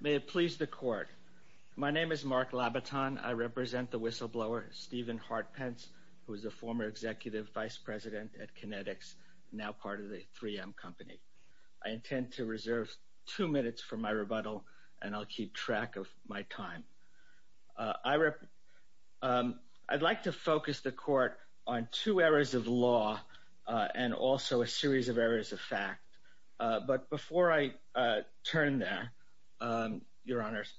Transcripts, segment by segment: May it please the court. My name is Mark Labaton. I represent the whistleblower, Stephen Hartpence, who is a former executive vice president at Kinetics, now part of the 3M company. I intend to reserve two minutes for my rebuttal, and I'll keep track of my time. I'd like to focus the court on two areas of law, and also a series of areas of fact. But before I turn there, your honors,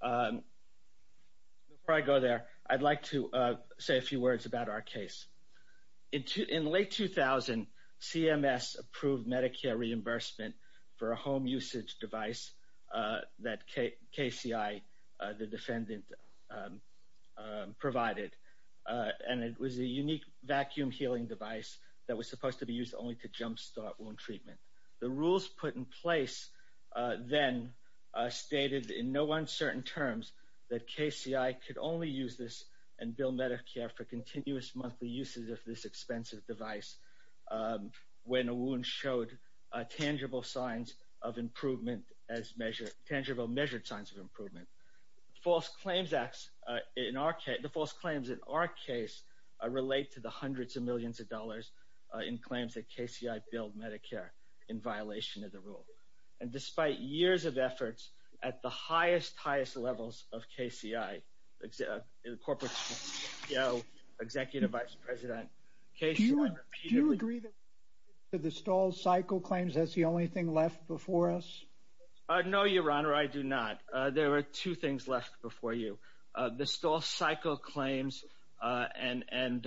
before I go there, I'd like to say a few words about our case. In late 2000, CMS approved Medicare reimbursement for a home usage device that KCI, the defendant, provided. And it was a unique vacuum healing device that was supposed to be used only to The rules put in place then stated in no uncertain terms that KCI could only use this and bill Medicare for continuous monthly uses of this expensive device, when a wound showed tangible signs of improvement as measured tangible measured signs of improvement. False claims acts in our case, the false claims in our case, relate to the hundreds of millions of dollars in claims that KCI billed Medicare in violation of the rule. And despite years of efforts at the highest highest levels of KCI, the corporate CEO, executive vice president. Do you agree that the stall cycle claims that's the only thing left before us? No, your honor, I do not. There are two things left before you. The stall cycle claims and and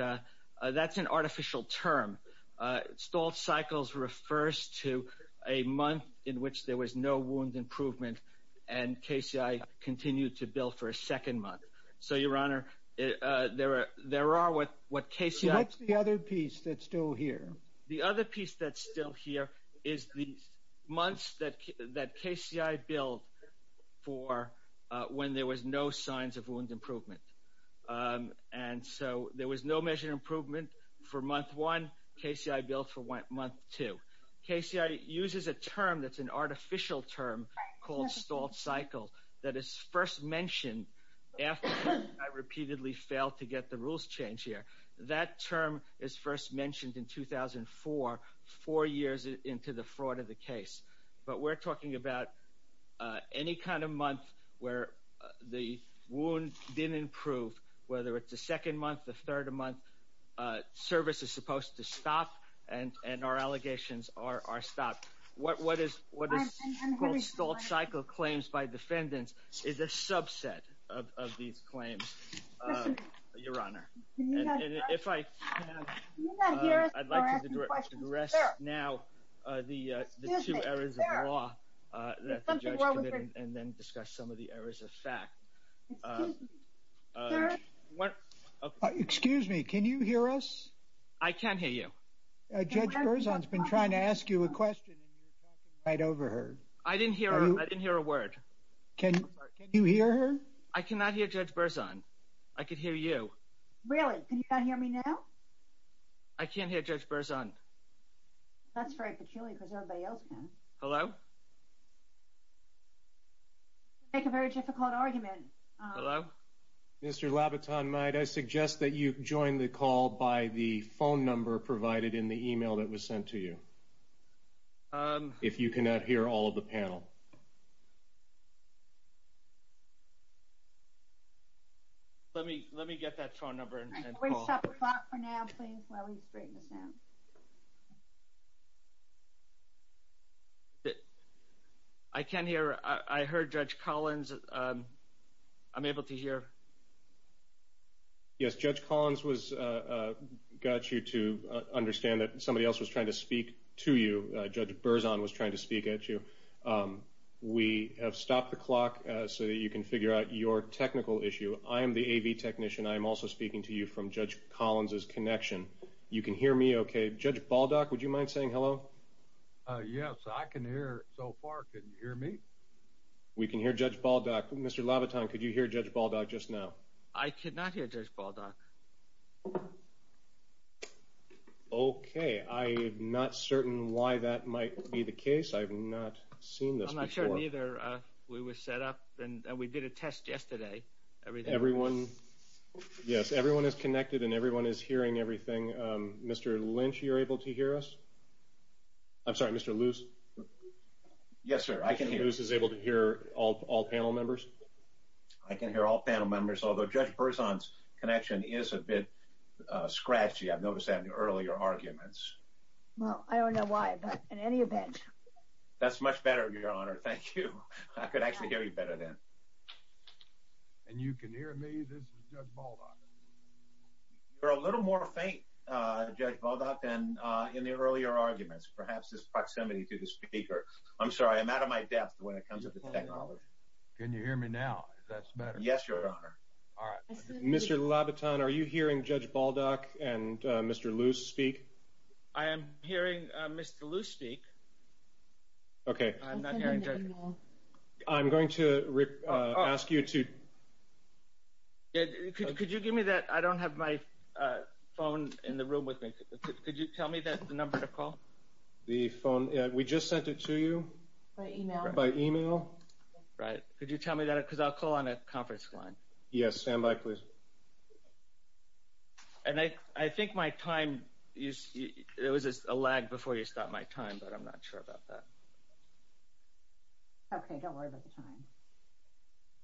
that's an artificial term. Stall cycles refers to a month in which there was no wound improvement. And KCI continued to bill for a second month. So your honor, there are there are what what case that's the other piece that's still here. The other piece that's still here is the months that that KCI billed for when there was no signs of wound improvement. And so there was no measure improvement for month one, KCI billed for month two. KCI uses a term that's an artificial term called stall cycle that is first mentioned after I repeatedly failed to get the rules changed here. That term is first mentioned in 2004, four years into the fraud of the case. But we're talking about any kind of month where the wound didn't improve, whether it's the second month, the third month, service is supposed to stop and and our allegations are stopped. What is what is stall cycle claims by defendants is a subset of these claims, your honor. And if I I'd like to address now the two areas of law that the judge committed and then discuss some of the Can you hear us? I can't hear you. Judge Burzon's been trying to ask you a question. I'd overheard. I didn't hear. I didn't hear a word. Can you hear her? I cannot hear Judge Burzon. I could hear you. Really? Can you hear me now? I can't hear Judge Burzon. That's very peculiar because everybody else can. Hello? You make a very difficult argument. Hello? Mr. Labaton-Meyd, I suggest that you join the call by the phone number provided in the email that was sent to you. If you cannot hear all of the panel. Let me let me get that phone number. We'll stop the clock for now, please, while we straighten this out. I can't hear. I heard Judge Collins. I'm able to hear. Yes, Judge Collins was got you to understand that somebody else was trying to speak to you. Judge Burzon was trying to speak at you. We have stopped the clock so that you can figure out your technical issue. I am the AV technician. I'm also speaking to you from Judge Collins's connection. You can hear me, okay? Judge Baldock, would you mind saying hello? Yes, I can hear so far. Can you hear me? We can hear Judge Baldock. Mr. Labaton, could you hear Judge Baldock just now? I cannot hear Judge Baldock. Okay. I am not certain why that might be the case. I have not seen this before. I'm not sure either. We were set up and we did a test yesterday. Everyone, yes, everyone is connected and everyone is hearing everything. Mr. Lynch, you're able to hear us? I'm sorry, Mr. Luce? Yes, sir. I can hear. Mr. Luce is able to hear all panel members? I can hear all panel members, although Judge Burzon's connection is a bit scratchy. I've noticed that in earlier arguments. Well, I don't know why, but in any event. That's much better, Your Honor. Thank you. I could actually hear you better then. And you can hear me? This is Judge Baldock. You're a little more faint, Judge Baldock, than in the earlier arguments. Perhaps it's proximity to the speaker. I'm sorry. I'm out of my depth when it comes to technology. Can you hear me now? Is that better? Yes, Your Honor. All right. Mr. Labaton, are you hearing Judge Baldock and Mr. Luce speak? I am hearing Mr. Luce speak. Okay. I'm not hearing Judge Baldock. I'm going to ask you to... Could you give me that? I don't have my phone in the room with me. Could you tell me the number to call? The phone? We just sent it to you. By email? By email. Right. Could you tell me that? Because I'll call on a conference line. Yes. Stand by, please. And I think my time... There was a lag before you stopped my time, but I'm not sure about that. Okay. Don't worry about the time.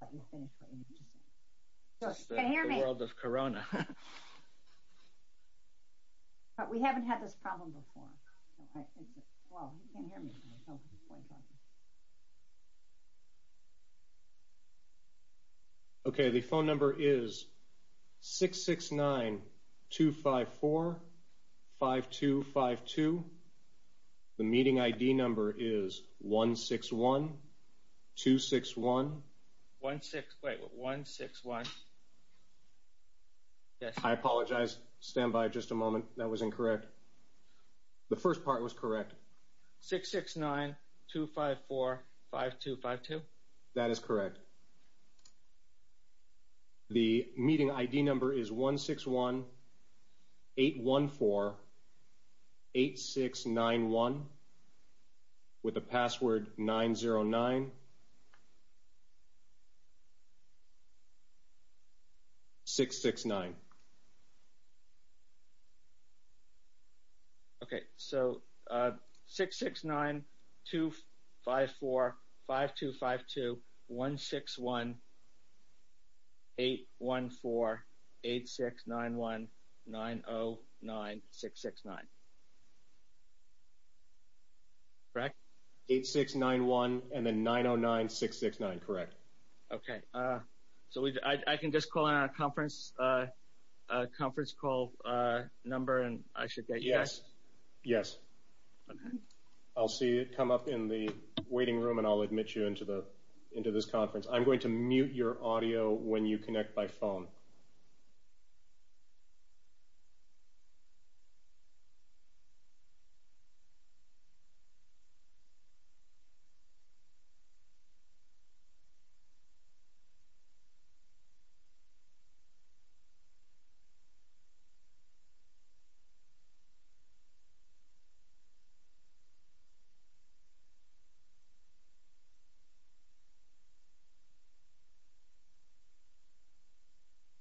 I'll let you finish what you need to say. Judge, can you hear me? The world of corona. But we haven't had this problem before. Well, he can't hear me. Okay. The phone number is 669-254-5252. The meeting ID number is 161-261... 16... Wait. 161... Yes. I apologize. Stand by just a moment. That was incorrect. The first part was correct. 669-254-5252? That is correct. Okay. The meeting ID number is 161-814-8691 with the password 909-669. Okay. So, 669-254-5252, 161-814-8691, 909-669. Correct? 8691 and then 909-669. Correct. Okay. So, I can just call in our conference call number and I should get... Yes. Yes. I'll see you come up in the waiting room and I'll admit you into this conference. I'm going to mute your audio when you connect by phone. Okay.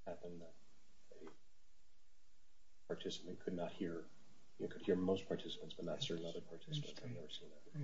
...happen that a participant could not hear... You could hear most participants but not certain other participants. I've never seen that.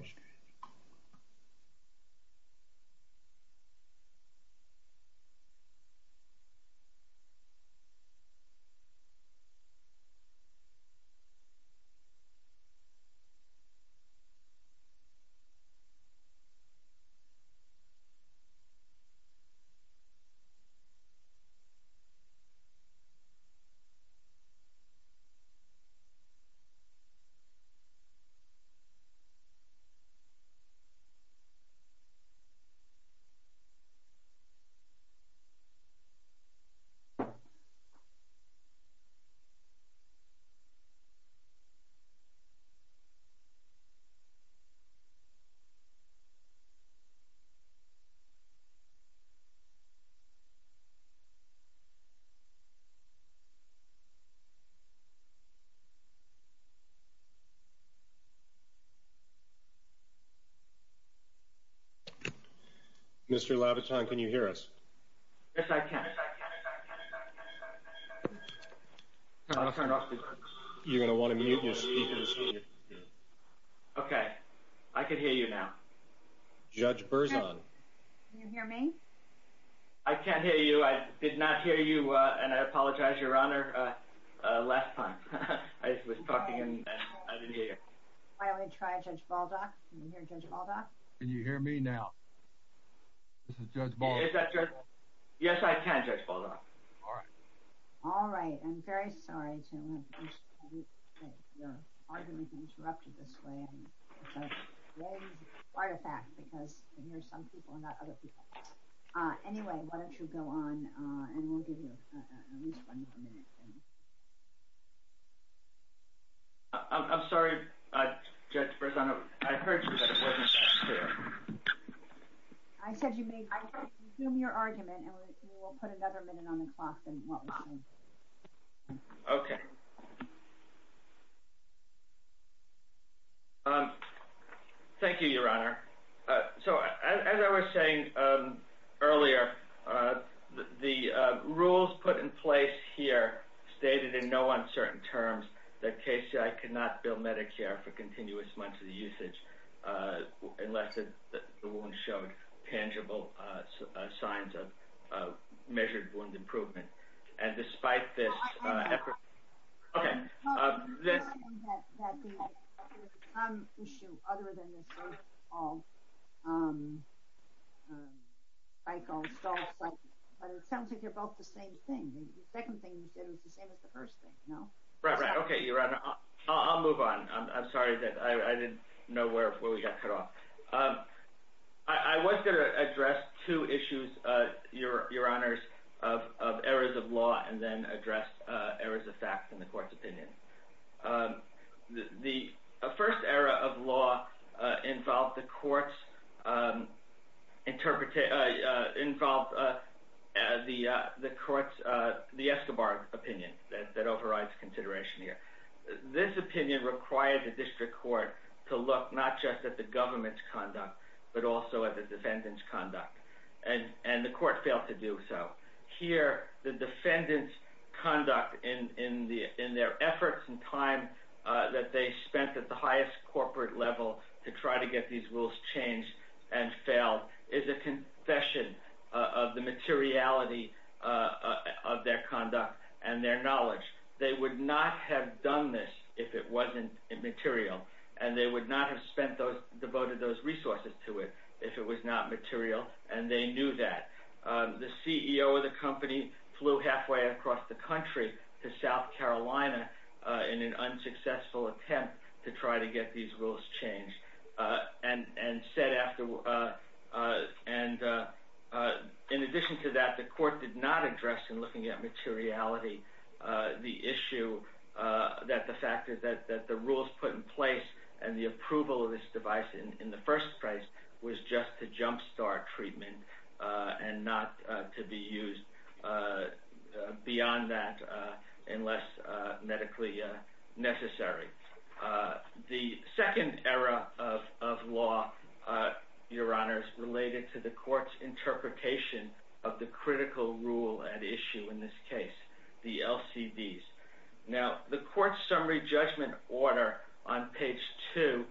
Mr. Labaton, can you hear us? Yes, I can. Okay. I can hear you now. Judge Berzon. Can you hear me? I can't hear you. I did not hear you and I apologize, Your Honor, last time. I was talking and I didn't hear you. Why don't we try Judge Baldock? Can you hear Judge Baldock? Can you hear me now? This is Judge Baldock. Is that Judge Baldock? Yes, I can, Judge Baldock. All right. All right. I'm very sorry to have your argument interrupted this way. It's a grave artifact because I hear some people and not other people. Anyway, why don't you go on and we'll give you at least one more minute. I'm sorry, Judge Berzon. I heard you but it wasn't that clear. I said you may resume your argument and we will put another minute on the clock. Okay. Thank you, Your Honor. So, as I was saying earlier, the rules put in place here stated in no uncertain terms that KCI could not bill Medicare for continuous months of usage unless the wound showed tangible signs of measured wound improvement and despite this effort... I'm assuming that there was some issue other than this so-called cycle, stall cycle, but it sounds like they're both the same thing. The second thing you said was the same as the first thing, no? Right, right. Okay, Your Honor. I'll move on. I'm sorry that I didn't know where we got cut off. I was going to address two issues, Your Honors, of errors of law and then address errors of fact in the court's opinion. The first error of law involved the court's... involved the court's... the Escobar opinion that overrides consideration here. This opinion required the district court to look not just at the government's conduct but also at the defendant's conduct and the court failed to do so. Here, the defendant's conduct in their efforts and time that they spent at the highest corporate level to try to get these rules changed and failed is a confession of the materiality of their conduct and their knowledge. They would not have done this if it wasn't material and they would not have devoted those resources to it if it was not material and they knew that. The CEO of the company flew halfway across the country to South Carolina in an unsuccessful attempt to try to get these rules changed and said after... and in addition to that, the court did not address in looking at materiality the issue that the fact that the rules put in place and the approval of this device in the first place was just to jumpstart treatment and not to be used beyond that unless medically necessary. The second error of law, Your Honors, related to the court's interpretation of the critical rule at issue in this case, the LCDs. Now, the court's summary judgment order on page two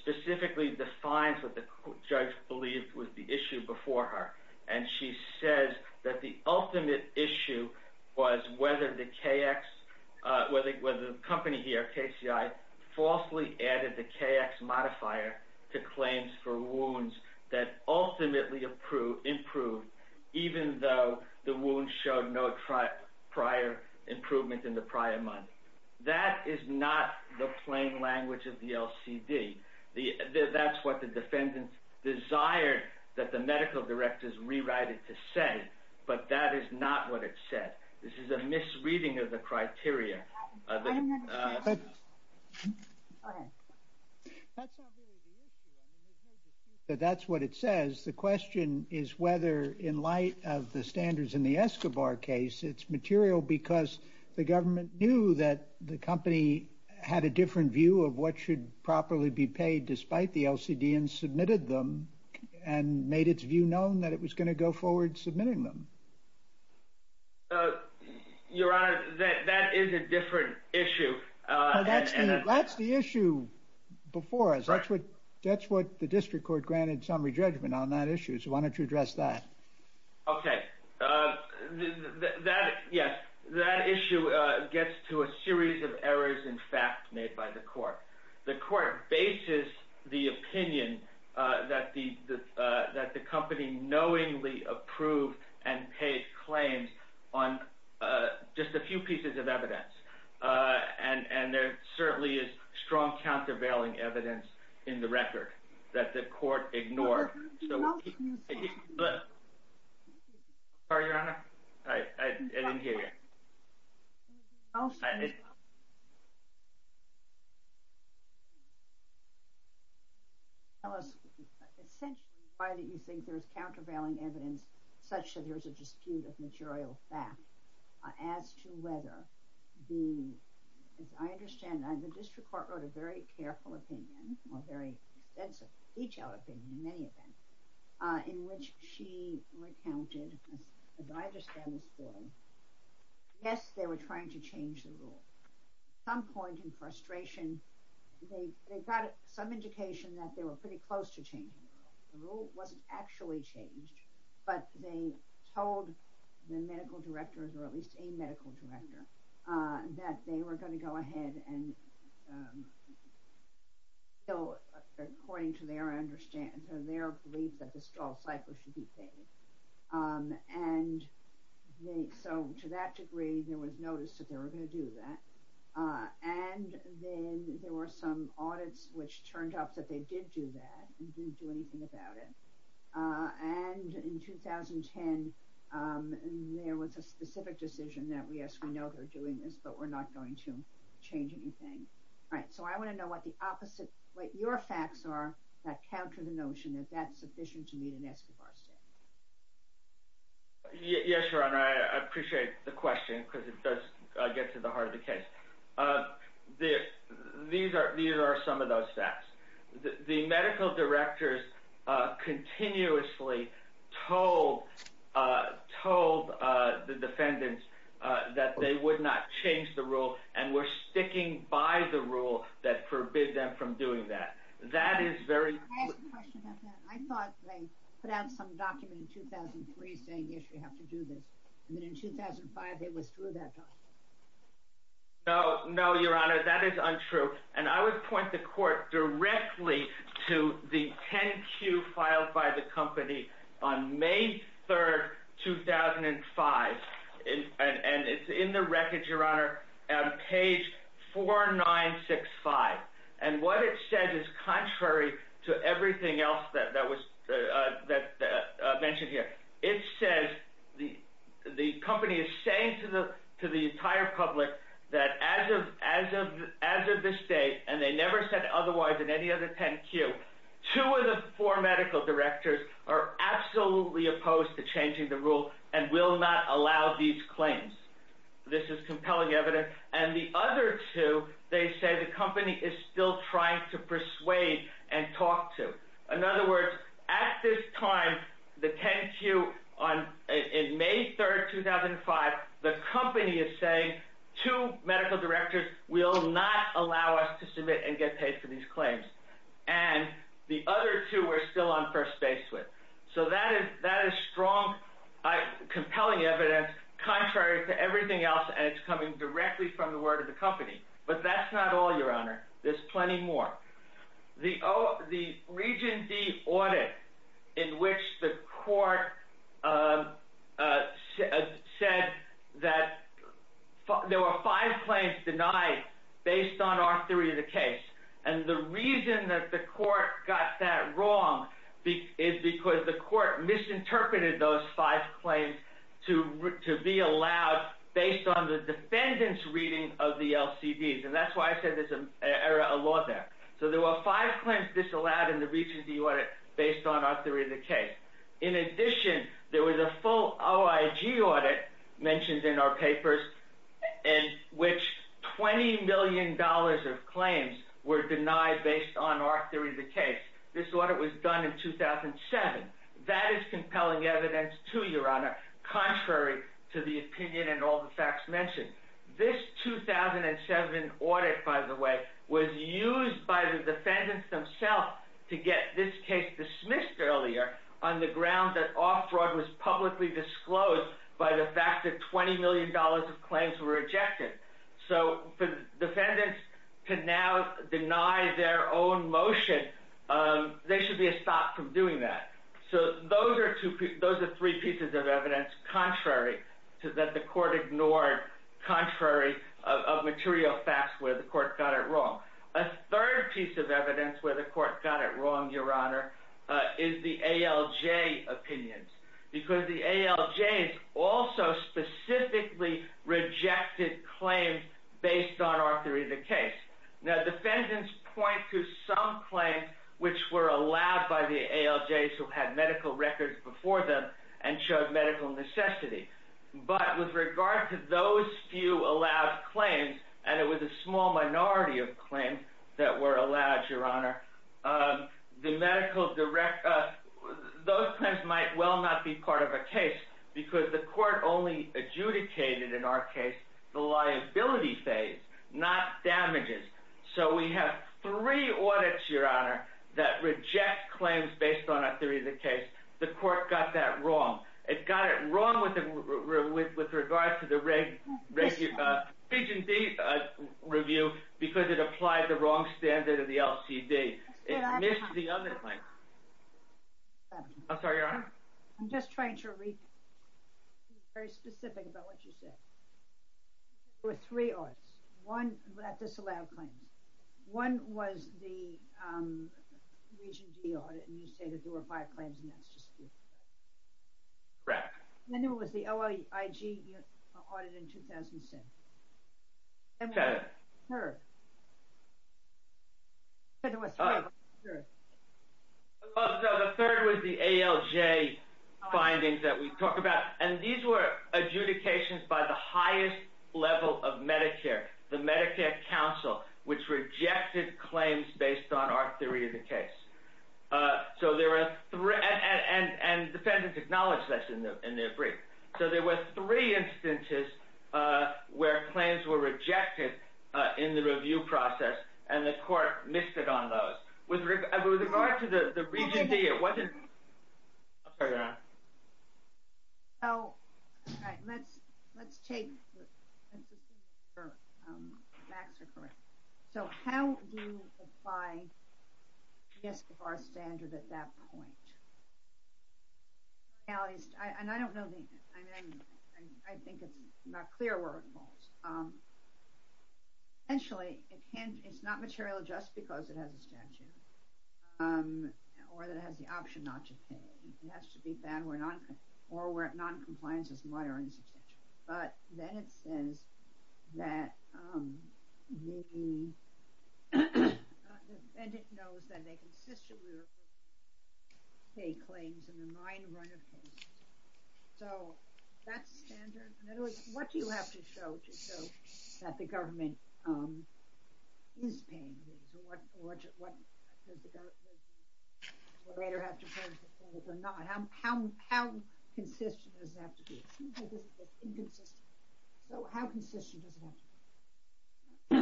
specifically defines what the judge believed was the issue before her and she says that the ultimate issue was whether the KX... whether the company here, KCI, falsely added the KX modifier to claims for wounds that ultimately improved even though the wound showed no prior improvement in the prior month. That is not the plain language of the LCD. That's what the defendant desired that the medical directors rewrite it to say, but that is not what it said. This is a misreading of the criteria. That's what it says. The question is whether in light of the standards in the Escobar case, it's material because the government knew that the company had a different view of what should properly be paid despite the LCD and submitted them and made its view known that it was going to go forward submitting them. Your Honor, that is a different issue. That's the issue before us. That's what the district court granted summary judgment on that issue, so why don't you address that? Okay, that issue gets to a series of errors in fact made by the court. The court bases the opinion that the company knowingly approved and paid claims on just a few pieces of evidence and there certainly is strong countervailing evidence in the record that the court ignored. Tell us essentially why you think there's countervailing evidence such that there's a dispute of material fact as to whether the, as I understand, the district court wrote a very extensive detailed opinion in many events in which she recounted, as I understand this form, yes, they were trying to change the rule. At some point in frustration, they got some indication that they were pretty close to changing the rule. The rule wasn't actually changed, but they told the medical directors or at least a medical director that they were going to go ahead and appeal according to their belief that the stalled cycle should be paid. So to that degree, there was notice that they were going to do that and then there were some audits which turned up that they did do that and didn't do anything about it. And in 2010, there was a specific decision that yes, we know they're doing this, but we're not going to change anything. All right. So I want to know what the opposite, what your facts are that counter the notion that that's sufficient to meet an ESCOBAR standard. Yes, Your Honor, I appreciate the question because it does get to the heart of the case. These are some of those facts. The medical directors continuously told the defendants that they would not change the rule and were sticking by the rule that forbid them from doing that. That is very true. I thought they put out some document in 2003 saying, yes, you have to do this. And then in 2005, they withdrew that document. No, no, Your Honor, that is untrue. And I would point the court directly to the 10Q filed by the company on May 3rd, 2005. And it's in the records, Your Honor, on page 4965. And what it says is contrary to everything else that was mentioned here. It says the company is saying to the entire public that as of this day, and they never said otherwise in any other 10Q, two of the four medical directors are absolutely opposed to changing the rule and will not allow these claims. This is compelling evidence. And the other two, they say the company is still trying to persuade and talk to. In other words, at this time, the 10Q on May 3rd, 2005, the company is saying two medical directors will not allow us to submit and get paid for these claims. And the other two we're still on first base with. So that is strong, compelling evidence, contrary to everything else. And it's coming directly from the word of the company. But that's not all, Your Honor. There's plenty more. The Region D audit in which the court said that there were five claims denied based on our theory of the case. And the reason that the court got that wrong is because the court misinterpreted those five claims to be allowed based on the defendant's reading of the LCDs. And that's why I said there's a law there. So there were five claims disallowed in the Region D audit based on our theory of the case. In addition, there was a full OIG audit mentioned in our papers in which $20 million of claims were denied based on our theory of the case. This audit was done in 2007. That is compelling evidence, too, Your Honor, contrary to the opinion and all the facts mentioned. This 2007 audit, by the way, was used by the defendants themselves to get this case dismissed earlier on the ground that our fraud was publicly disclosed by the fact that $20 million of claims were rejected. So for the defendants to now deny their own motion, they should be stopped from doing that. So those are three pieces of evidence contrary to that the court ignored, contrary of material facts where the court got it wrong. A third piece of evidence where the court got it wrong, Your Honor, is the ALJ opinions. Because the ALJs also specifically rejected claims based on our theory of the case. Now, defendants point to some claims which were allowed by the ALJs who had medical records before them and showed medical necessity. But with regard to those few allowed claims, and it was a small part of a case because the court only adjudicated in our case the liability phase, not damages. So we have three audits, Your Honor, that reject claims based on our theory of the case. The court got that wrong. It got it wrong with regard to the Region D review because it applied the wrong standard of the LCD. It missed the other claims. I'm sorry, Your Honor? I'm just trying to be very specific about what you said. There were three audits, one that disallowed claims. One was the Region D audit and you say that there were five claims and that's just it. Correct. And then there was the OIG audit in 2007. The third was the ALJ findings that we talked about. And these were adjudications by the highest level of Medicare, the Medicare Council, which rejected claims based on our theory of the case. So there were three instances where claims were rejected in the review process and the court missed it on those. With regard to the Region D, it wasn't... I'm sorry, Your Honor? All right. Let's assume your facts are correct. So how do you apply the ESQ-R standard at that point? I think it's not clear where it falls. Essentially, it's not material just because it or where noncompliance is minor and substantial. But then it says that the defendant knows that they consistently pay claims in the minor run of cases. So that's standard. In other words, what do you have to show to show that the government is paying these? What does the government have to pay or not? How consistent does it have to be? It seems like this is inconsistent. So how consistent does it have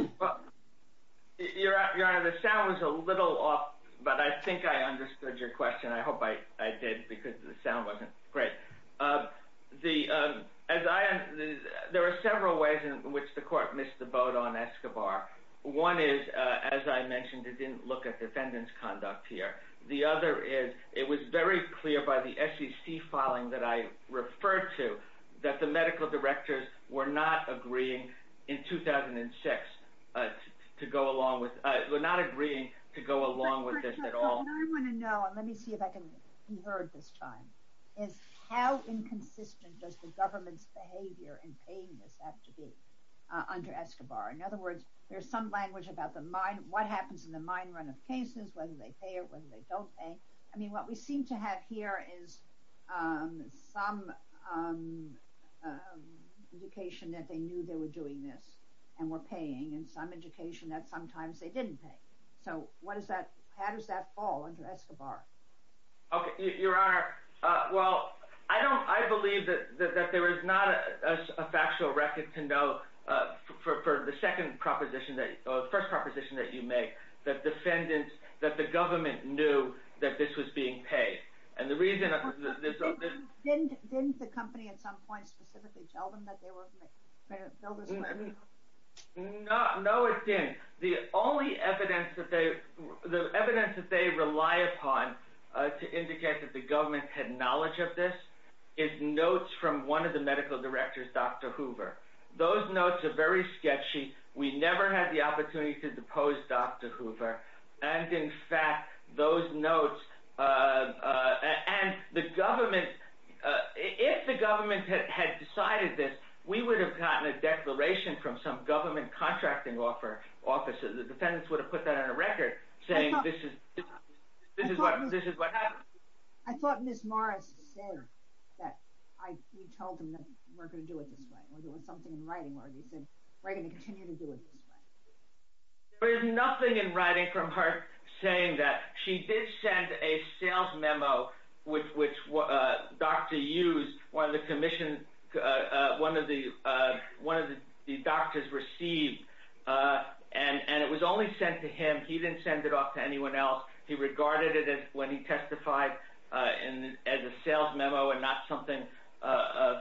to be? Your Honor, the sound was a little off, but I think I understood your question. I hope I did because the sound wasn't great. There were several ways in which the court missed the vote on ESQ-R. One is, as I mentioned, it didn't look at defendant's conduct here. The other is it was very clear by the SEC filing that I referred to that the medical directors were not agreeing in 2006 to go along with... were not agreeing to go along with this at all. What I want to know, and let me see if I can be heard this time, is how inconsistent does the government's behavior in paying this have to be under ESQ-R? In other words, there's some language about the minor... what happens in the minor run of cases, whether they pay it, whether they don't pay. I mean, what we seem to have here is some education that they knew they were doing this and were paying, and some education that sometimes they didn't pay. So what does that... how does that fall under ESQ-R? Okay. Your Honor, well, I don't... I believe that there is not a factual record to know for the second proposition that... the first proposition that you make, that defendants... that the government knew that this was being paid. And the reason... Didn't the company at some point specifically tell them that they were... No. No, it didn't. The only evidence that they... the evidence that they rely upon to indicate that the government had knowledge of this is notes from one of the medical directors, Dr. Hoover. Those notes are very sketchy. We never had the opportunity to depose Dr. Hoover. And in fact, those notes... and the government... if the government had decided this, we would have gotten a declaration from some government contracting office. The defendants would have put that on a record saying this is... this is what... this is what happened. I thought Ms. Morris said that... I... you told them that we're going to do it this way. Or there was something in writing where you said we're going to continue to do it this way. There is nothing in writing from her saying that. She did send a sales memo which Dr. Hughes, one of the commission... one of the doctors received. And it was only sent to him. He didn't send it off to anyone else. He regarded it as when he testified as a sales memo and not something of...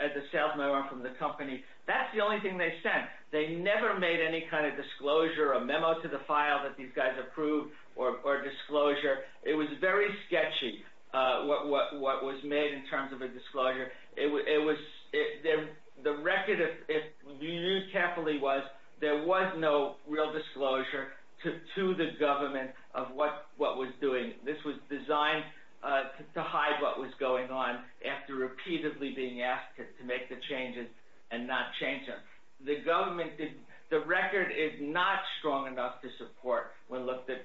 as a sales memo from the company. That's the only thing they sent. They never made any kind of disclosure, a memo to the file that these guys approved or disclosure. It was very made in terms of a disclosure. It was... the record, if you knew carefully, was there was no real disclosure to the government of what was doing. This was designed to hide what was going on after repeatedly being asked to make the changes and not change them. The government didn't... the record is not strong enough to support, when looked at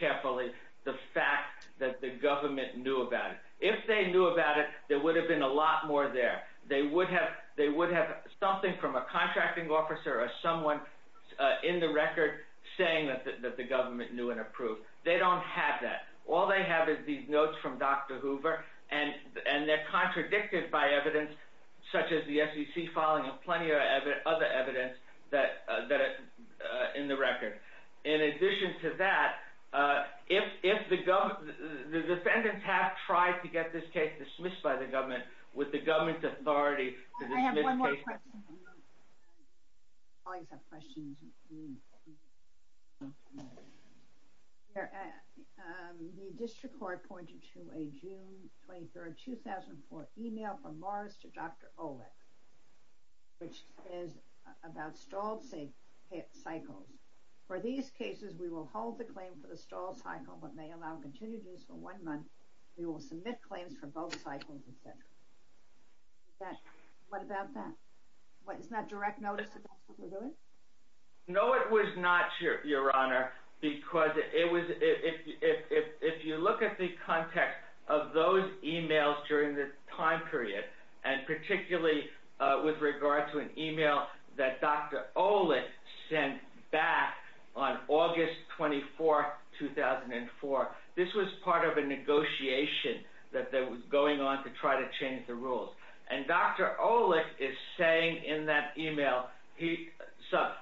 carefully, the fact that the government knew about it. If they knew about it, there would have been a lot more there. They would have... they would have something from a contracting officer or someone in the record saying that the government knew and approved. They don't have that. All they have is these notes from Dr. Hoover and... and they're contradicted by evidence such as the SEC filing and plenty of other evidence that... that... in the record. In addition to that, if... if the government... the defendants have tried to get this case dismissed by the government, would the government's authority to dismiss cases... I have one more question. I always have questions. The district court pointed to a June 23, 2004, email from Morris to Dr. Olick, which is about stalled cycles. For these cases, we will hold the claim for the stalled cycle, but may allow continued use for one month. We will submit claims for both cycles, etc. What about that? What... is that direct notice of what we're doing? No, it was not, Your Honor, because it was... if... if... if you look at the context of those emails during the time period, and particularly with regard to an email that Dr. Olick sent back on August 24, 2004, this was part of a negotiation that was going on to try to change the rules. And Dr. Olick is saying in that email, he... so I...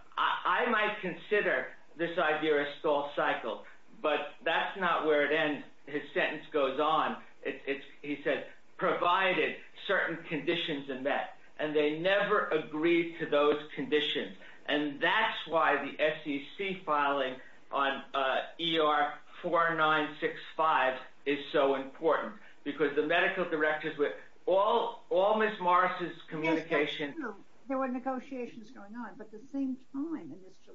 I might consider this idea a stalled cycle, but that's not where it ends. His sentence goes on. It's... it's... he said, provided certain conditions are met, and they never agreed to those conditions. And that's why the SEC filing on ER 4965 is so important, because the medical directors with all... all Ms. Morris's communication... Yes, there were negotiations going on, but at the same time, in this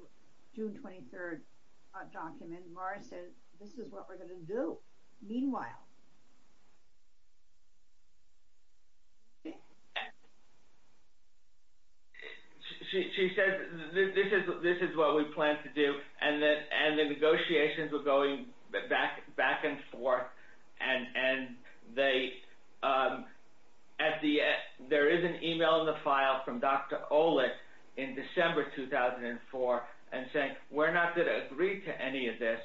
June 23rd document, Morris said, this is what we're going to do. Meanwhile, she... she said, this is... this is what we plan to do. And the... and the negotiations were going back... back and forth, and... and they... at the... there is an email in the file from Dr. Olick in December 2004, and saying, we're not going to agree to any of this.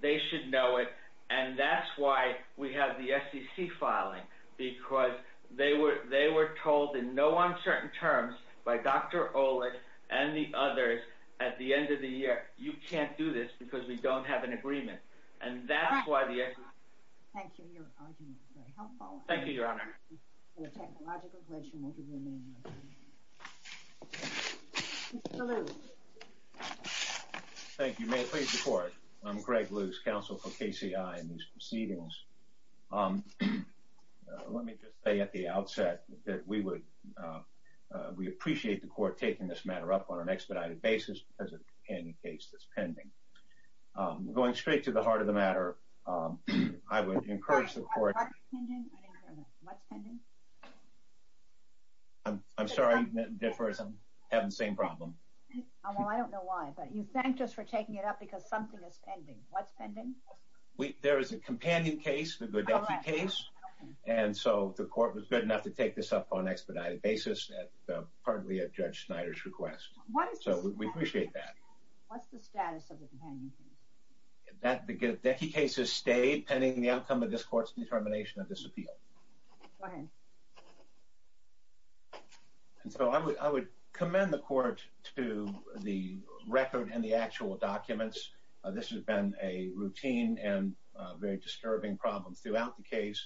They should know it. And that's why we have the SEC filing, because they were... they were told in no uncertain terms by Dr. Olick and the others, at the end of the year, you can't do this, because we don't have an agreement. And that's why the SEC... Thank you. Your argument is very helpful. Thank you, Your Honor. The technological question will remain unanswered. Mr. Luce. Thank you. May it please the Court. I'm Greg Luce, counsel for KCI in these proceedings. Let me just say at the outset that we would... we appreciate the Court taking this matter up on an expedited basis, because it's a companion case that's pending. Going straight to the heart of the matter, I would encourage the Court... What's pending? I didn't hear that. What's pending? I'm sorry, Ms. Differs, I'm having the same problem. Well, I don't know why, but you thanked us for taking it up, because something is pending. What's pending? There is a companion case, the Godecky case, and so the Court was good enough to take this up on So we appreciate that. What's the status of the companion case? The Godecky case has stayed pending the outcome of this Court's determination of disappeal. Go ahead. And so I would commend the Court to the record and the actual documents. This has been a routine and very disturbing problem throughout the case,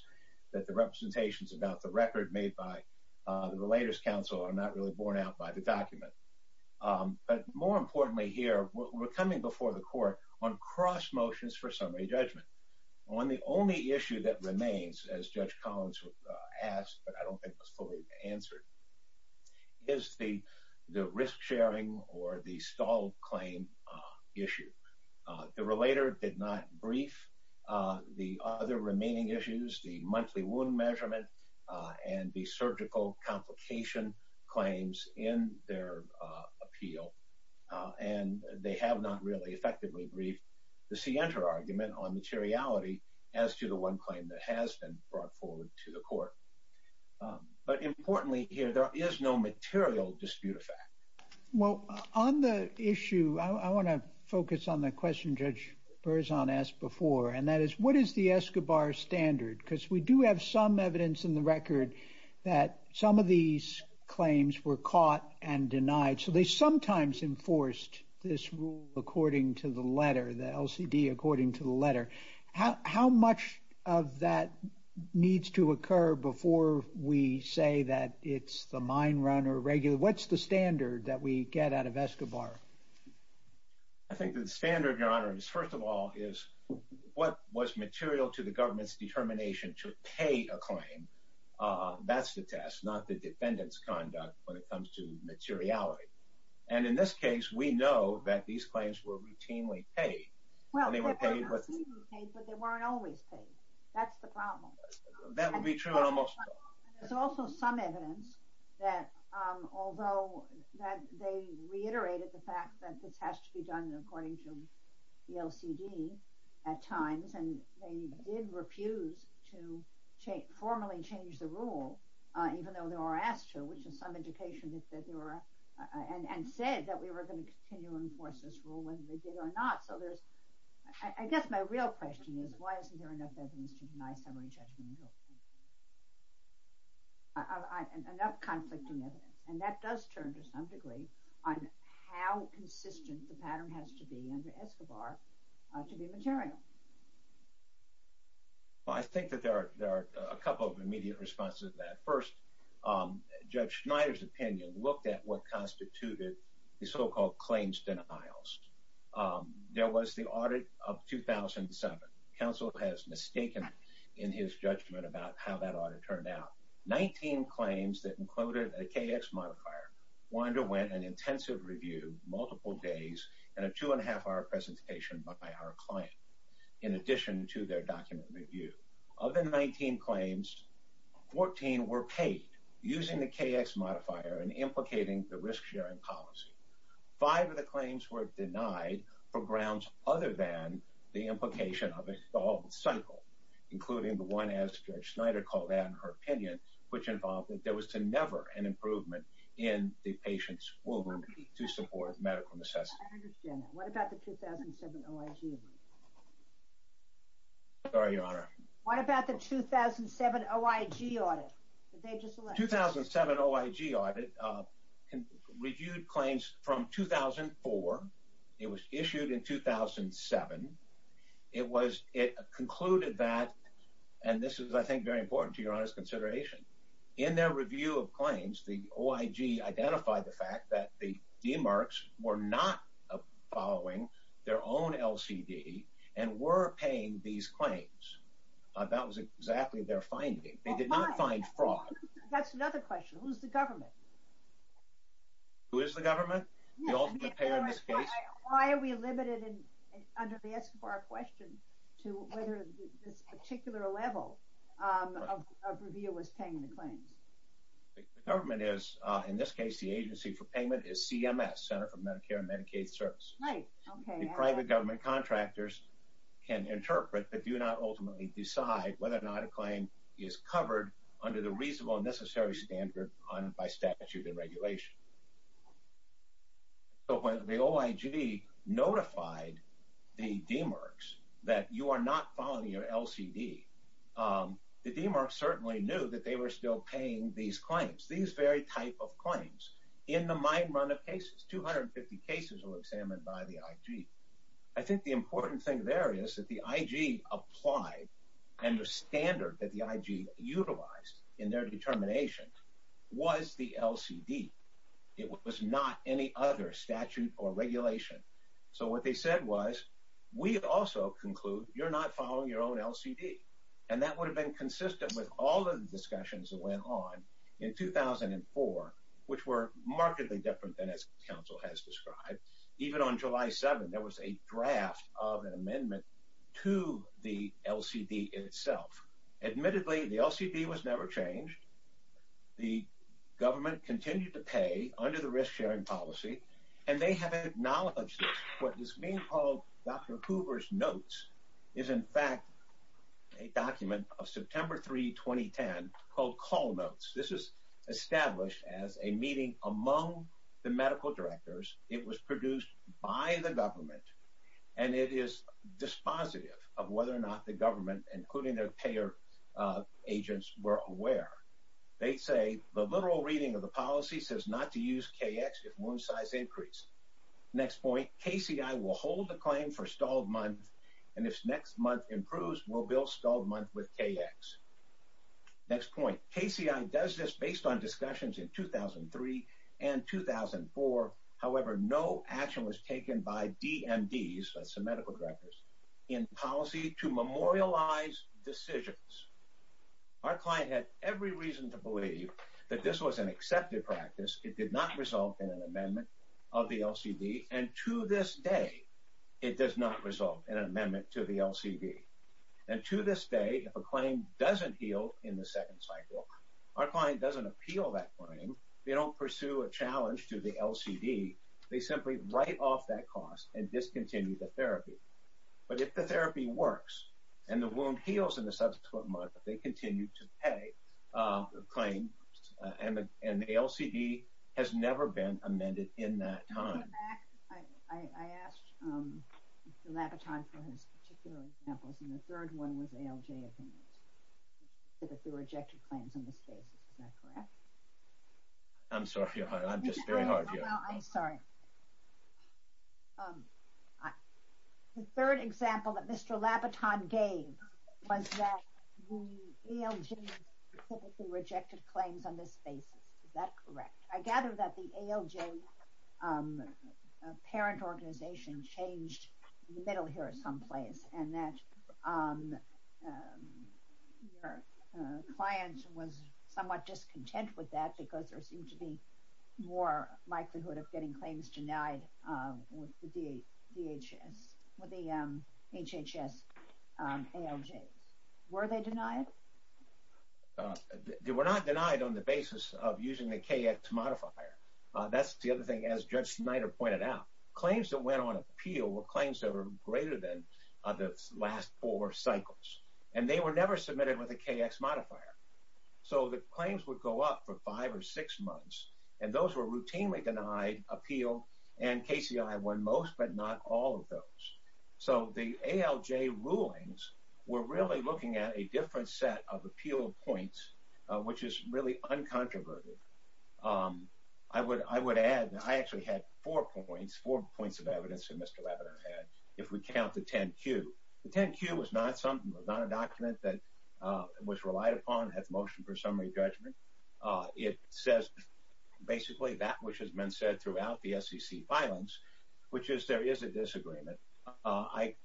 that the representations about the record made by the Relators Council are not really borne out by the document. But more importantly here, we're coming before the Court on cross motions for summary judgment. On the only issue that remains, as Judge Collins asked, but I don't think was fully answered, is the risk-sharing or the stall claim issue. The Relator did not brief the other remaining issues, the monthly wound measurement and the surgical complication claims, in their appeal. And they have not really effectively briefed the Sienta argument on materiality as to the one claim that has been brought forward to the Court. But importantly here, there is no material dispute effect. Well, on the issue, I want to focus on the question Judge Berzon asked before, and that is, what is the Escobar standard? Because we do have some evidence in the record that some of these claims were caught and denied. So they sometimes enforced this rule according to the letter, the LCD according to the letter. How much of that needs to occur before we say that it's the mine run or regular? What's the standard that we get out of Escobar? I think the standard, Your Honor, is first of all, what was material to the government's determination to pay a claim? That's the test, not the defendant's conduct when it comes to materiality. And in this case, we know that these claims were routinely paid. Well, they were paid, but they weren't always paid. That's the problem. That would be true almost. There's also some evidence that although they reiterated the fact that this has to be done according to the LCD at times, and they did refuse to formally change the rule, even though they were asked to, which is some indication that they were, and said that we were going to continue to enforce this rule whether they did or not. So there's, I guess my real question is, why isn't there enough evidence to deny summary judgment? Enough conflicting evidence. And that does turn to some degree on how consistent the pattern has to be under Escobar to be material. Well, I think that there are a couple of immediate responses to that. First, Judge Schneider's opinion looked at what constituted the so-called claims denials. There was the audit of 2007. Counsel has mistaken in his judgment about how that audit turned out. 19 claims that included a KX modifier underwent an intensive review, multiple days, and a two-and-a-half-hour presentation by our client in addition to their document review. Of the 19 claims, 14 were paid using the KX modifier and implicating the risk-sharing policy. Five of the claims were denied for grounds other than the implication of a solved cycle, including the one, as Judge Schneider called out in her opinion, which involved that there was to never an improvement in the patient's will to support medical necessity. I understand that. What about the 2007 OIG audit? Sorry, Your Honor. What about the 2007 OIG audit? 2007 OIG audit reviewed claims from 2004. It was issued in 2007. It concluded that, and this is, I think, very important to Your Honor's consideration, in their review of claims, the OIG identified the fact that the DMARCs were not following their own LCD and were paying these claims. That was exactly their finding. They did not find fraud. That's another question. Who's the government? Who is the government? The ultimate payer in this case? Why are we limited, under the escobar question, to whether this particular level of review was paying the claims? The government is, in this case, the agency for payment is CMS, Center for Medicare and Medicaid Service. Right, okay. The private government contractors can interpret but do not ultimately decide whether or not a claim is covered under the reasonable and necessary standard by statute and regulation. But when the OIG notified the DMARCs that you are not following your LCD, the DMARCs certainly knew that they were still paying these claims, these very type of claims. In the mind run of cases, 250 cases were examined by the IG. I think the important thing there is that the IG applied and the standard that the IG utilized in their determination was the LCD. It was not any other statute or regulation. So what they said was, we also conclude you're not following your own LCD. And that would have been consistent with all of the discussions that went on in 2004, which were markedly different than as counsel has described. Even on July 7, there was a draft of an amendment to the LCD itself. Admittedly, the LCD was never changed. The government continued to pay under the risk sharing policy, and they have acknowledged this. What is being called Dr. Hoover's notes is in fact a document of September 3, 2010, called Call Notes. This is established as a meeting among the medical directors. It was produced by the government, and it is dispositive of whether or not the government, including their payer agents, were aware. They say, the literal reading of the policy says not to use KX if wound size increase. Next point, KCI will hold the claim for stalled month, and if next month improves, we'll bill stalled month with KX. Next point, KCI does this based on discussions in 2003 and 2004. However, no action was taken by DMDs, that's the medical directors, in policy to memorialize decisions. Our client had every reason to believe that this was an accepted practice. It did not resolve in an amendment of the LCD, and to this day, it does not resolve in an amendment to the LCD. And to this day, if a claim doesn't heal in the second cycle, our client doesn't appeal that claim. They don't pursue a challenge to the LCD. They simply write off that cost and discontinue the therapy. But if the therapy works, and the wound heals in the subsequent month, they continue to pay the claim. And the LCD has never been amended in that time. To go back, I asked Mr. Labaton for his particular examples, and the third one was ALJ opinions. He said that there were ejected claims on this basis. Is that correct? I'm sorry, I'm just very hard, yeah. Well, I'm sorry. The third example that Mr. Labaton gave was that the ALJ publicly rejected claims on this basis. Is that correct? I gather that the ALJ parent organization changed in the middle here someplace, and that your client was somewhat discontent with that because there seemed to be more likelihood of getting claims denied with the DHS, with the HHS ALJs. Were they denied? They were not denied on the basis of using the KX modifier. That's the other thing, as Judge Snyder pointed out. Claims that went on appeal were claims that were greater than the last four cycles, and they were never submitted with a KX modifier. So the claims would go up for five or six months, and those were routinely denied appeal, and KCI won most but not all of those. So the ALJ rulings were really looking at a different set of appeal points, which is really uncontroverted. I would add that I actually had four points, four points of evidence that Mr. Labaton had if we count the 10-Q. The 10-Q was not something, was not a document that was relied upon, has motion for summary judgment. It says basically that which has been said throughout the SEC filings, which is there is a disagreement.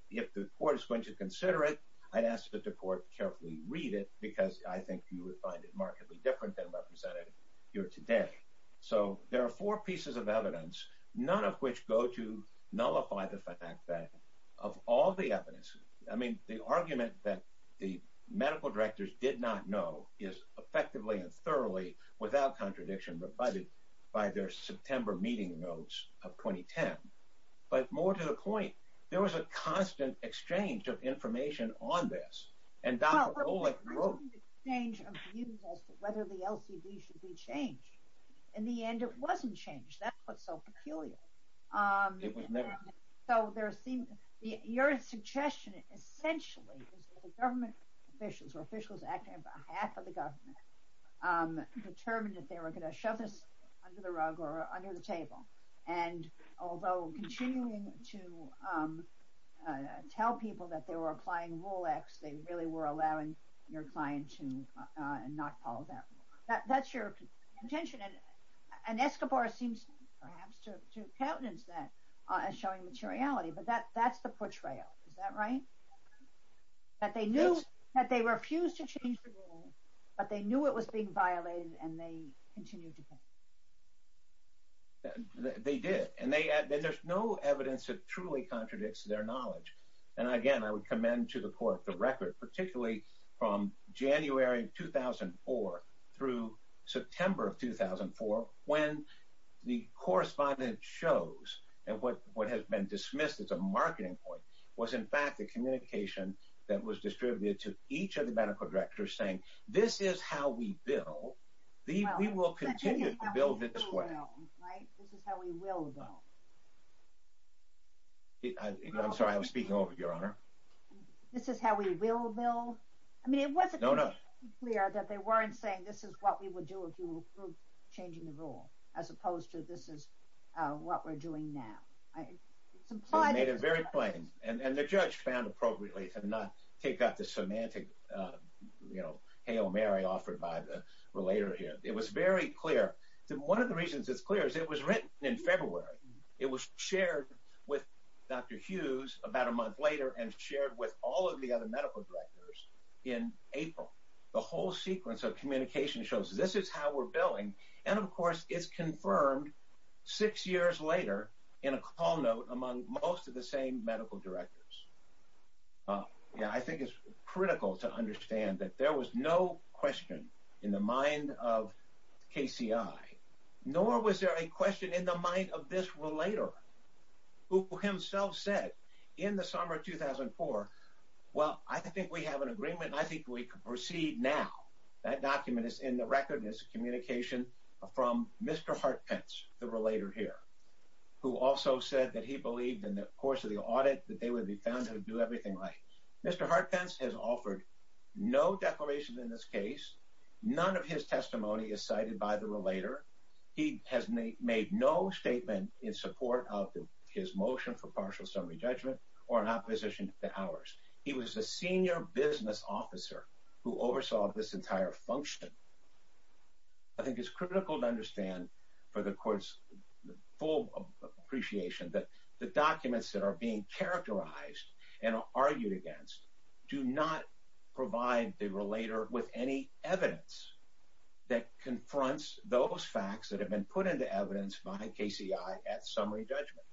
If the court is going to consider it, I'd ask that the court carefully read it because I think you would find it markedly different than represented here today. So there are four pieces of evidence, none of which go to nullify the fact that of all the evidence, I mean, the argument that the medical directors did not know is effectively and thoroughly without contradiction provided by their September meeting notes of 2010. But more to the point, there was a constant exchange of information on this, and Dr. Olick wrote... Well, there was a constant exchange of views as to whether the LCD should be changed. In the end, it wasn't changed. That's what's so peculiar. It was never changed. So your suggestion essentially is that the government officials or officials acting on behalf of the government determined that they were going to shove this under the rug or under the table. And although continuing to tell people that they were applying Rule X, they really were allowing your client to not follow that. That's your contention. And Escobar seems perhaps to countenance that as showing materiality, but that's the portrayal. Is that right? Yes. That they knew that they refused to change the rule, but they knew it was being violated and they continued to pay. They did. And there's no evidence that truly contradicts their knowledge. And again, I would commend to the court the record, particularly from January of 2004 through September of 2004, when the correspondence shows, and what has been dismissed as a marketing point, was in fact the communication that was distributed to each of the medical directors saying, this is how we bill. We will continue to bill this way. Right. This is how we will bill. I'm sorry. I was speaking over you, Your Honor. This is how we will bill. I mean, it wasn't clear that they weren't saying, this is what we would do if you approve changing the rule, as opposed to this is what we're doing now. It was made very plain and the judge found appropriately to not take out the semantic, you know, hail Mary offered by the relator here. It was very clear. One of the reasons it's clear is it was written in February. It was shared with Dr. Hughes about a month later and shared with all of the other medical directors in April. The whole sequence of communication shows, this is how we're billing. And of course it's confirmed six years later in a call note among most of the same medical directors. Yeah, I think it's critical to understand that there was no question in the mind of KCI, nor was there a question in the mind of this relator who himself said in the summer of 2004, well, I think we have an agreement. I think we could proceed now. That document is in the record as communication from Mr. Hart Pence, the relator here. Who also said that he believed in the course of the audit that they would be found to do everything right. Mr. Hart Pence has offered no declaration in this case. None of his testimony is cited by the relator. He has made no statement in support of his motion for partial summary judgment or in opposition to ours. He was a senior business officer who oversaw this entire function. I think it's critical to understand for the court's full appreciation that the documents that are being characterized and argued against do not provide the relator with any evidence that confronts those facts that have been put into evidence by KCI at summary judgment.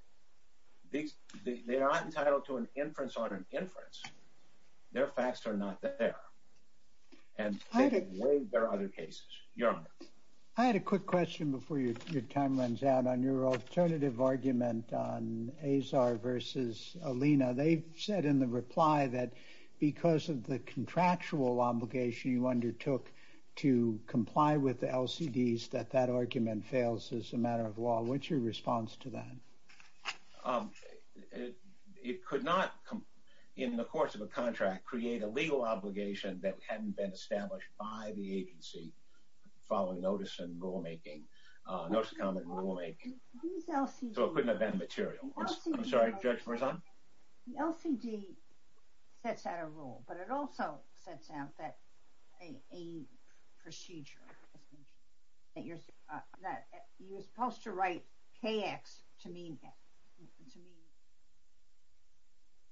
They are not entitled to an inference on an inference. Their facts are not there. And I think there are other cases. Your honor. I had a quick question before your time runs out on your alternative argument on Azar versus Alina. They've said in the reply that because of the contractual obligation you undertook to comply with the LCDs that that argument fails as a matter of law. What's your response to that? It could not come in the course of a contract create a legal obligation that hadn't been established by the agency following notice and rulemaking. Notice of comment and rulemaking. So it couldn't have been material. I'm sorry, Judge Marzano. The LCD sets out a rule but it also sets out that a procedure that you're supposed to write KX to mean...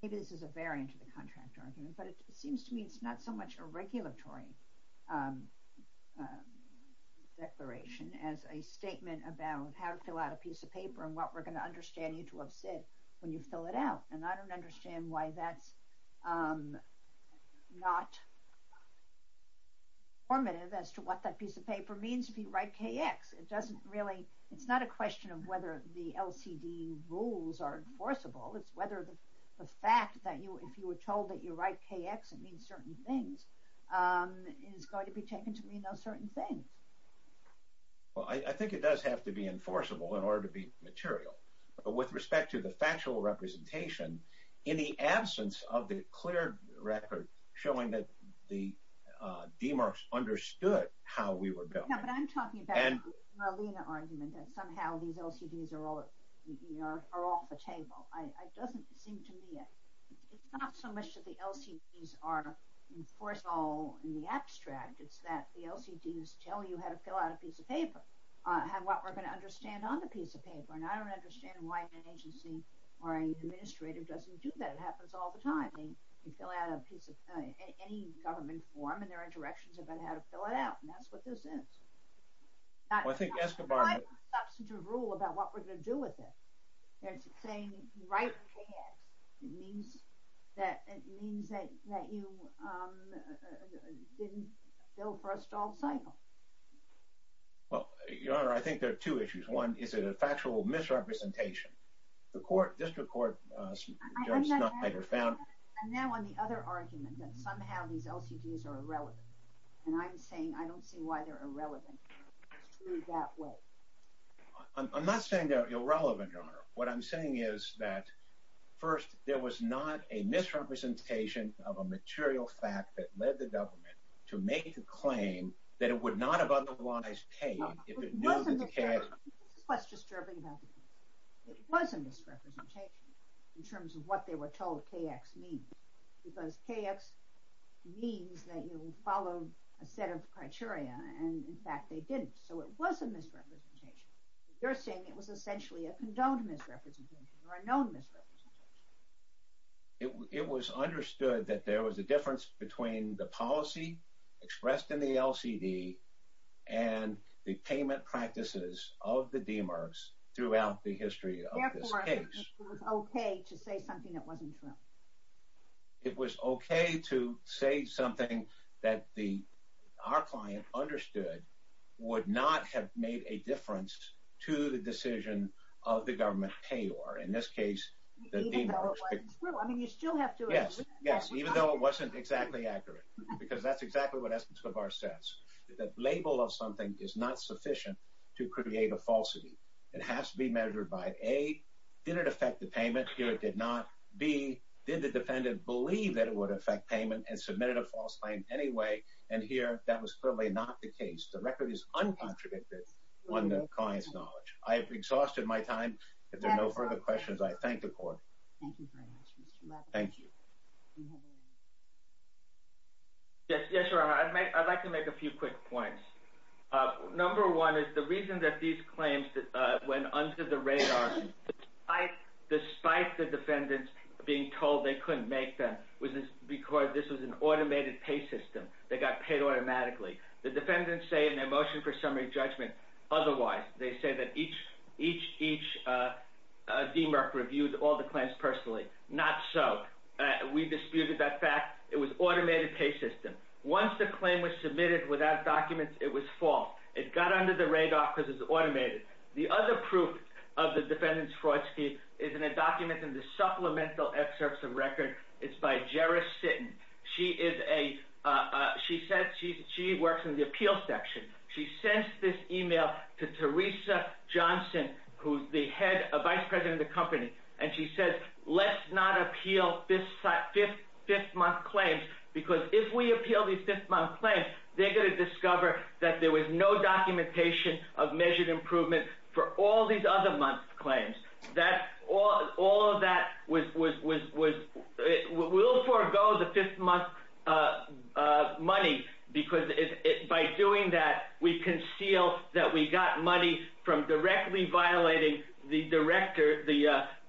Maybe this is a variant of the contract argument but it seems to me it's not so much a regulatory declaration as a statement about how to fill out a piece of paper and what we're going to understand you to have said when you fill it out. And I don't understand why that's not informative as to what that piece of paper means if you write KX. It doesn't really... It's not a question of whether the LCD rules are enforceable. It's whether the fact that you... If you were told that you write KX it means certain things and it's going to be taken to mean those certain things. Well, I think it does have to be enforceable in order to be material. But with respect to the factual representation in the absence of the clear record showing that the DMARCs understood how we were built... No, but I'm talking about the Marlena argument that somehow these LCDs are off the table. It doesn't seem to me... It's not so much that the LCDs are enforceable in the abstract. It's that the LCDs tell you how to fill out a piece of paper and what we're going to understand on the piece of paper. And I don't understand why an agency or an administrative doesn't do that. It happens all the time. They fill out a piece of any government form and there are directions about how to fill it out. And that's what this is. Well, I think Escobar... It's not a substantive rule about what we're going to do with it. It's saying you can write KX. It means that you didn't fill for a stalled cycle. Well, Your Honor, I think there are two issues. One, is it a factual misrepresentation? The court, district court... I'm now on the other argument that somehow these LCDs are irrelevant. And I'm saying I don't see why they're irrelevant that way. I'm not saying they're irrelevant, Your Honor. What I'm saying is that, first, there was not a misrepresentation of a material fact that led the government to make the claim that it would not have otherwise paid... It wasn't a misrepresentation in terms of what they were told KX means. Because KX means that you follow a set of criteria. And in fact, they didn't. So it was a misrepresentation. You're saying it was essentially a condoned misrepresentation or a known misrepresentation. It was understood that there was a difference between the policy expressed in the LCD and the payment practices of the DMERS throughout the history of this case. Therefore, it was okay to say something that wasn't true. It was okay to say something that our client understood would not have made a difference to the decision of the government payor. In this case, the DMERS... Even though it wasn't true. I mean, you still have to... Yes, yes. Even though it wasn't exactly accurate. Because that's exactly what Esme Skobar says. The label of something is not sufficient to create a falsity. It has to be measured by, A, did it affect the payment? Here, it did not. B, did the defendant believe that it would affect payment and submitted a false claim anyway? And here, that was clearly not the case. The record is uncontradicted on the client's knowledge. I have exhausted my time. If there are no further questions, I thank the court. Thank you. Yes, yes, Your Honor. I'd like to make a few quick points. Number one is the reason that these claims went under the radar, despite the defendants being told they couldn't make them, was because this was an automated pay system. They got paid automatically. The defendants say in their motion for summary judgment, otherwise, they say that each DMRC reviewed all the claims personally. Not so. We disputed that fact. It was automated pay system. Once the claim was submitted without documents, it was false. It got under the radar because it's automated. The other proof of the defendant's fraud scheme is in a document in the supplemental excerpts of record. It's by Gera Sitton. She works in the appeal section. She sends this email to Teresa Johnson, who's the vice president of the company, and she says, let's not appeal fifth-month claims because if we appeal these fifth-month claims, they're going to discover that there was no documentation of measured improvement for all these other month's claims. All of that will forego the fifth-month money because by doing that, we conceal that we got money from directly violating the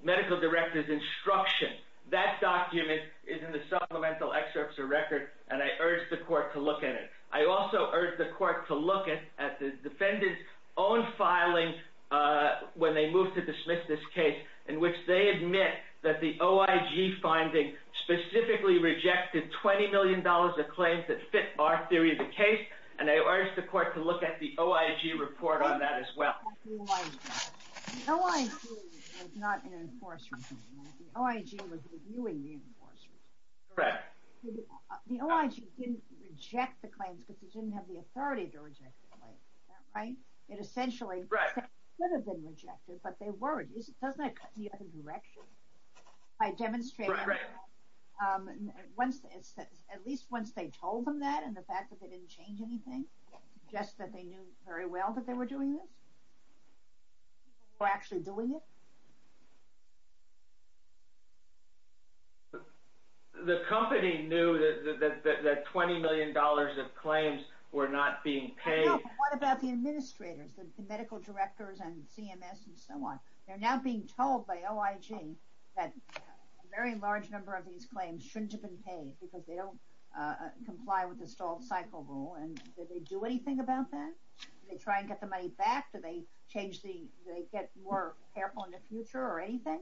medical director's instruction. That document is in the supplemental excerpts of record, and I urge the court to look at it. I also urge the court to look at the defendant's own filing when they moved to dismiss this case, in which they admit that the OIG finding specifically rejected $20 million of claims that fit our theory of the case, and I urge the court to look at the OIG report on that as well. The OIG was not an enforcement claim. The OIG was reviewing the enforcers. Correct. The OIG didn't reject the claims because it didn't have the authority to reject the claims, right? It essentially could have been rejected, but they weren't. Doesn't that cut in the other direction? By demonstrating, at least once they told them that and the fact that they didn't change anything, just that they knew very well that they were doing this, or actually doing it? The company knew that $20 million of claims were not being paid. What about the administrators, the medical directors and CMS and so on? They're now being told by OIG that a very large number of these claims shouldn't have been paid because they don't comply with the stalled cycle rule, and did they do anything about that? Did they try and get the money back? Did they get more careful in the future or anything?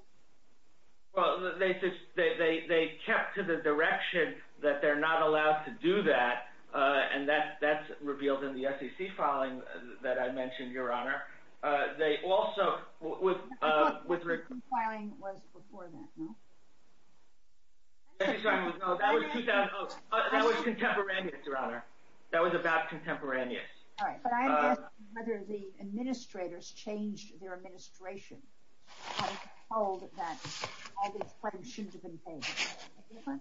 Well, they kept to the direction that they're not allowed to do that, and that's revealed in the SEC filing that I mentioned, Your Honor. They also... I thought the compiling was before that, no? That was contemporaneous, Your Honor. That was about contemporaneous. All right. But I'm asking whether the administrators changed their administration and told that all these claims shouldn't have been paid.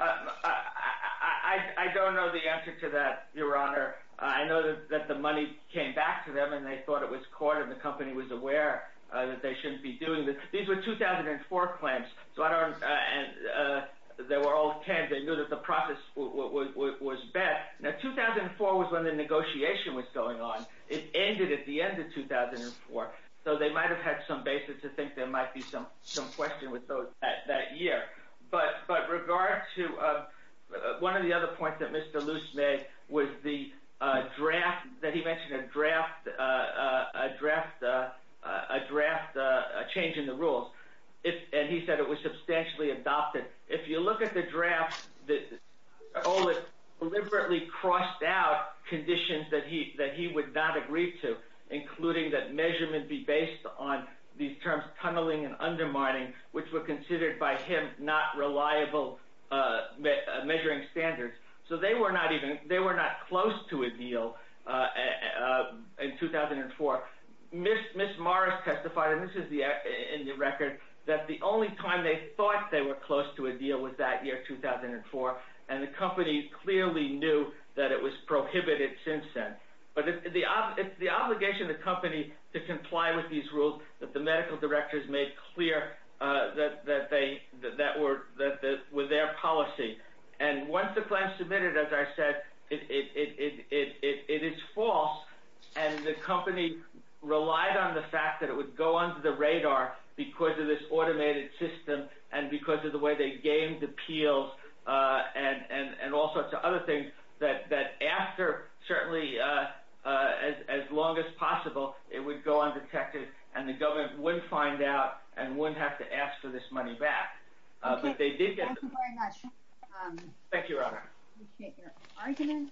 I don't know the answer to that, Your Honor. I know that the money came back to them, and they thought it was caught, and the company was aware that they shouldn't be doing this. These were 2004 claims, so I don't... They were all tens. They knew that the process was bad. Now, 2004 was when the negotiation was going on. It ended at the end of 2004, so they might have had some basis to think there might be some question with those that year. But regard to one of the other points that Mr. Luce made was the draft that he mentioned, a draft change in the rules, and he said it was substantially adopted. If you look at the draft, Oliver deliberately crossed out conditions that he would not agree to, including that measurement be based on these terms, tunneling and undermining, which were considered by him not reliable measuring standards. So they were not even... They were not close to a deal in 2004. Ms. Morris testified, and this is in the record, that the only time they thought they were close to a deal was that year, 2004, and the company clearly knew that it was prohibited since then. But it's the obligation of the company to comply with these rules that the medical directors made clear that were their policy. And once the plan submitted, as I said, it is false, and the company relied on the fact that it would go under the radar because of this automated system and because of the way they gamed appeals and all sorts of other things that after, certainly, as long as possible, it would go undetected, and the government wouldn't find out and wouldn't have to ask for this money back. But they did get it. Thank you very much. Thank you, Your Honor. I appreciate your argument.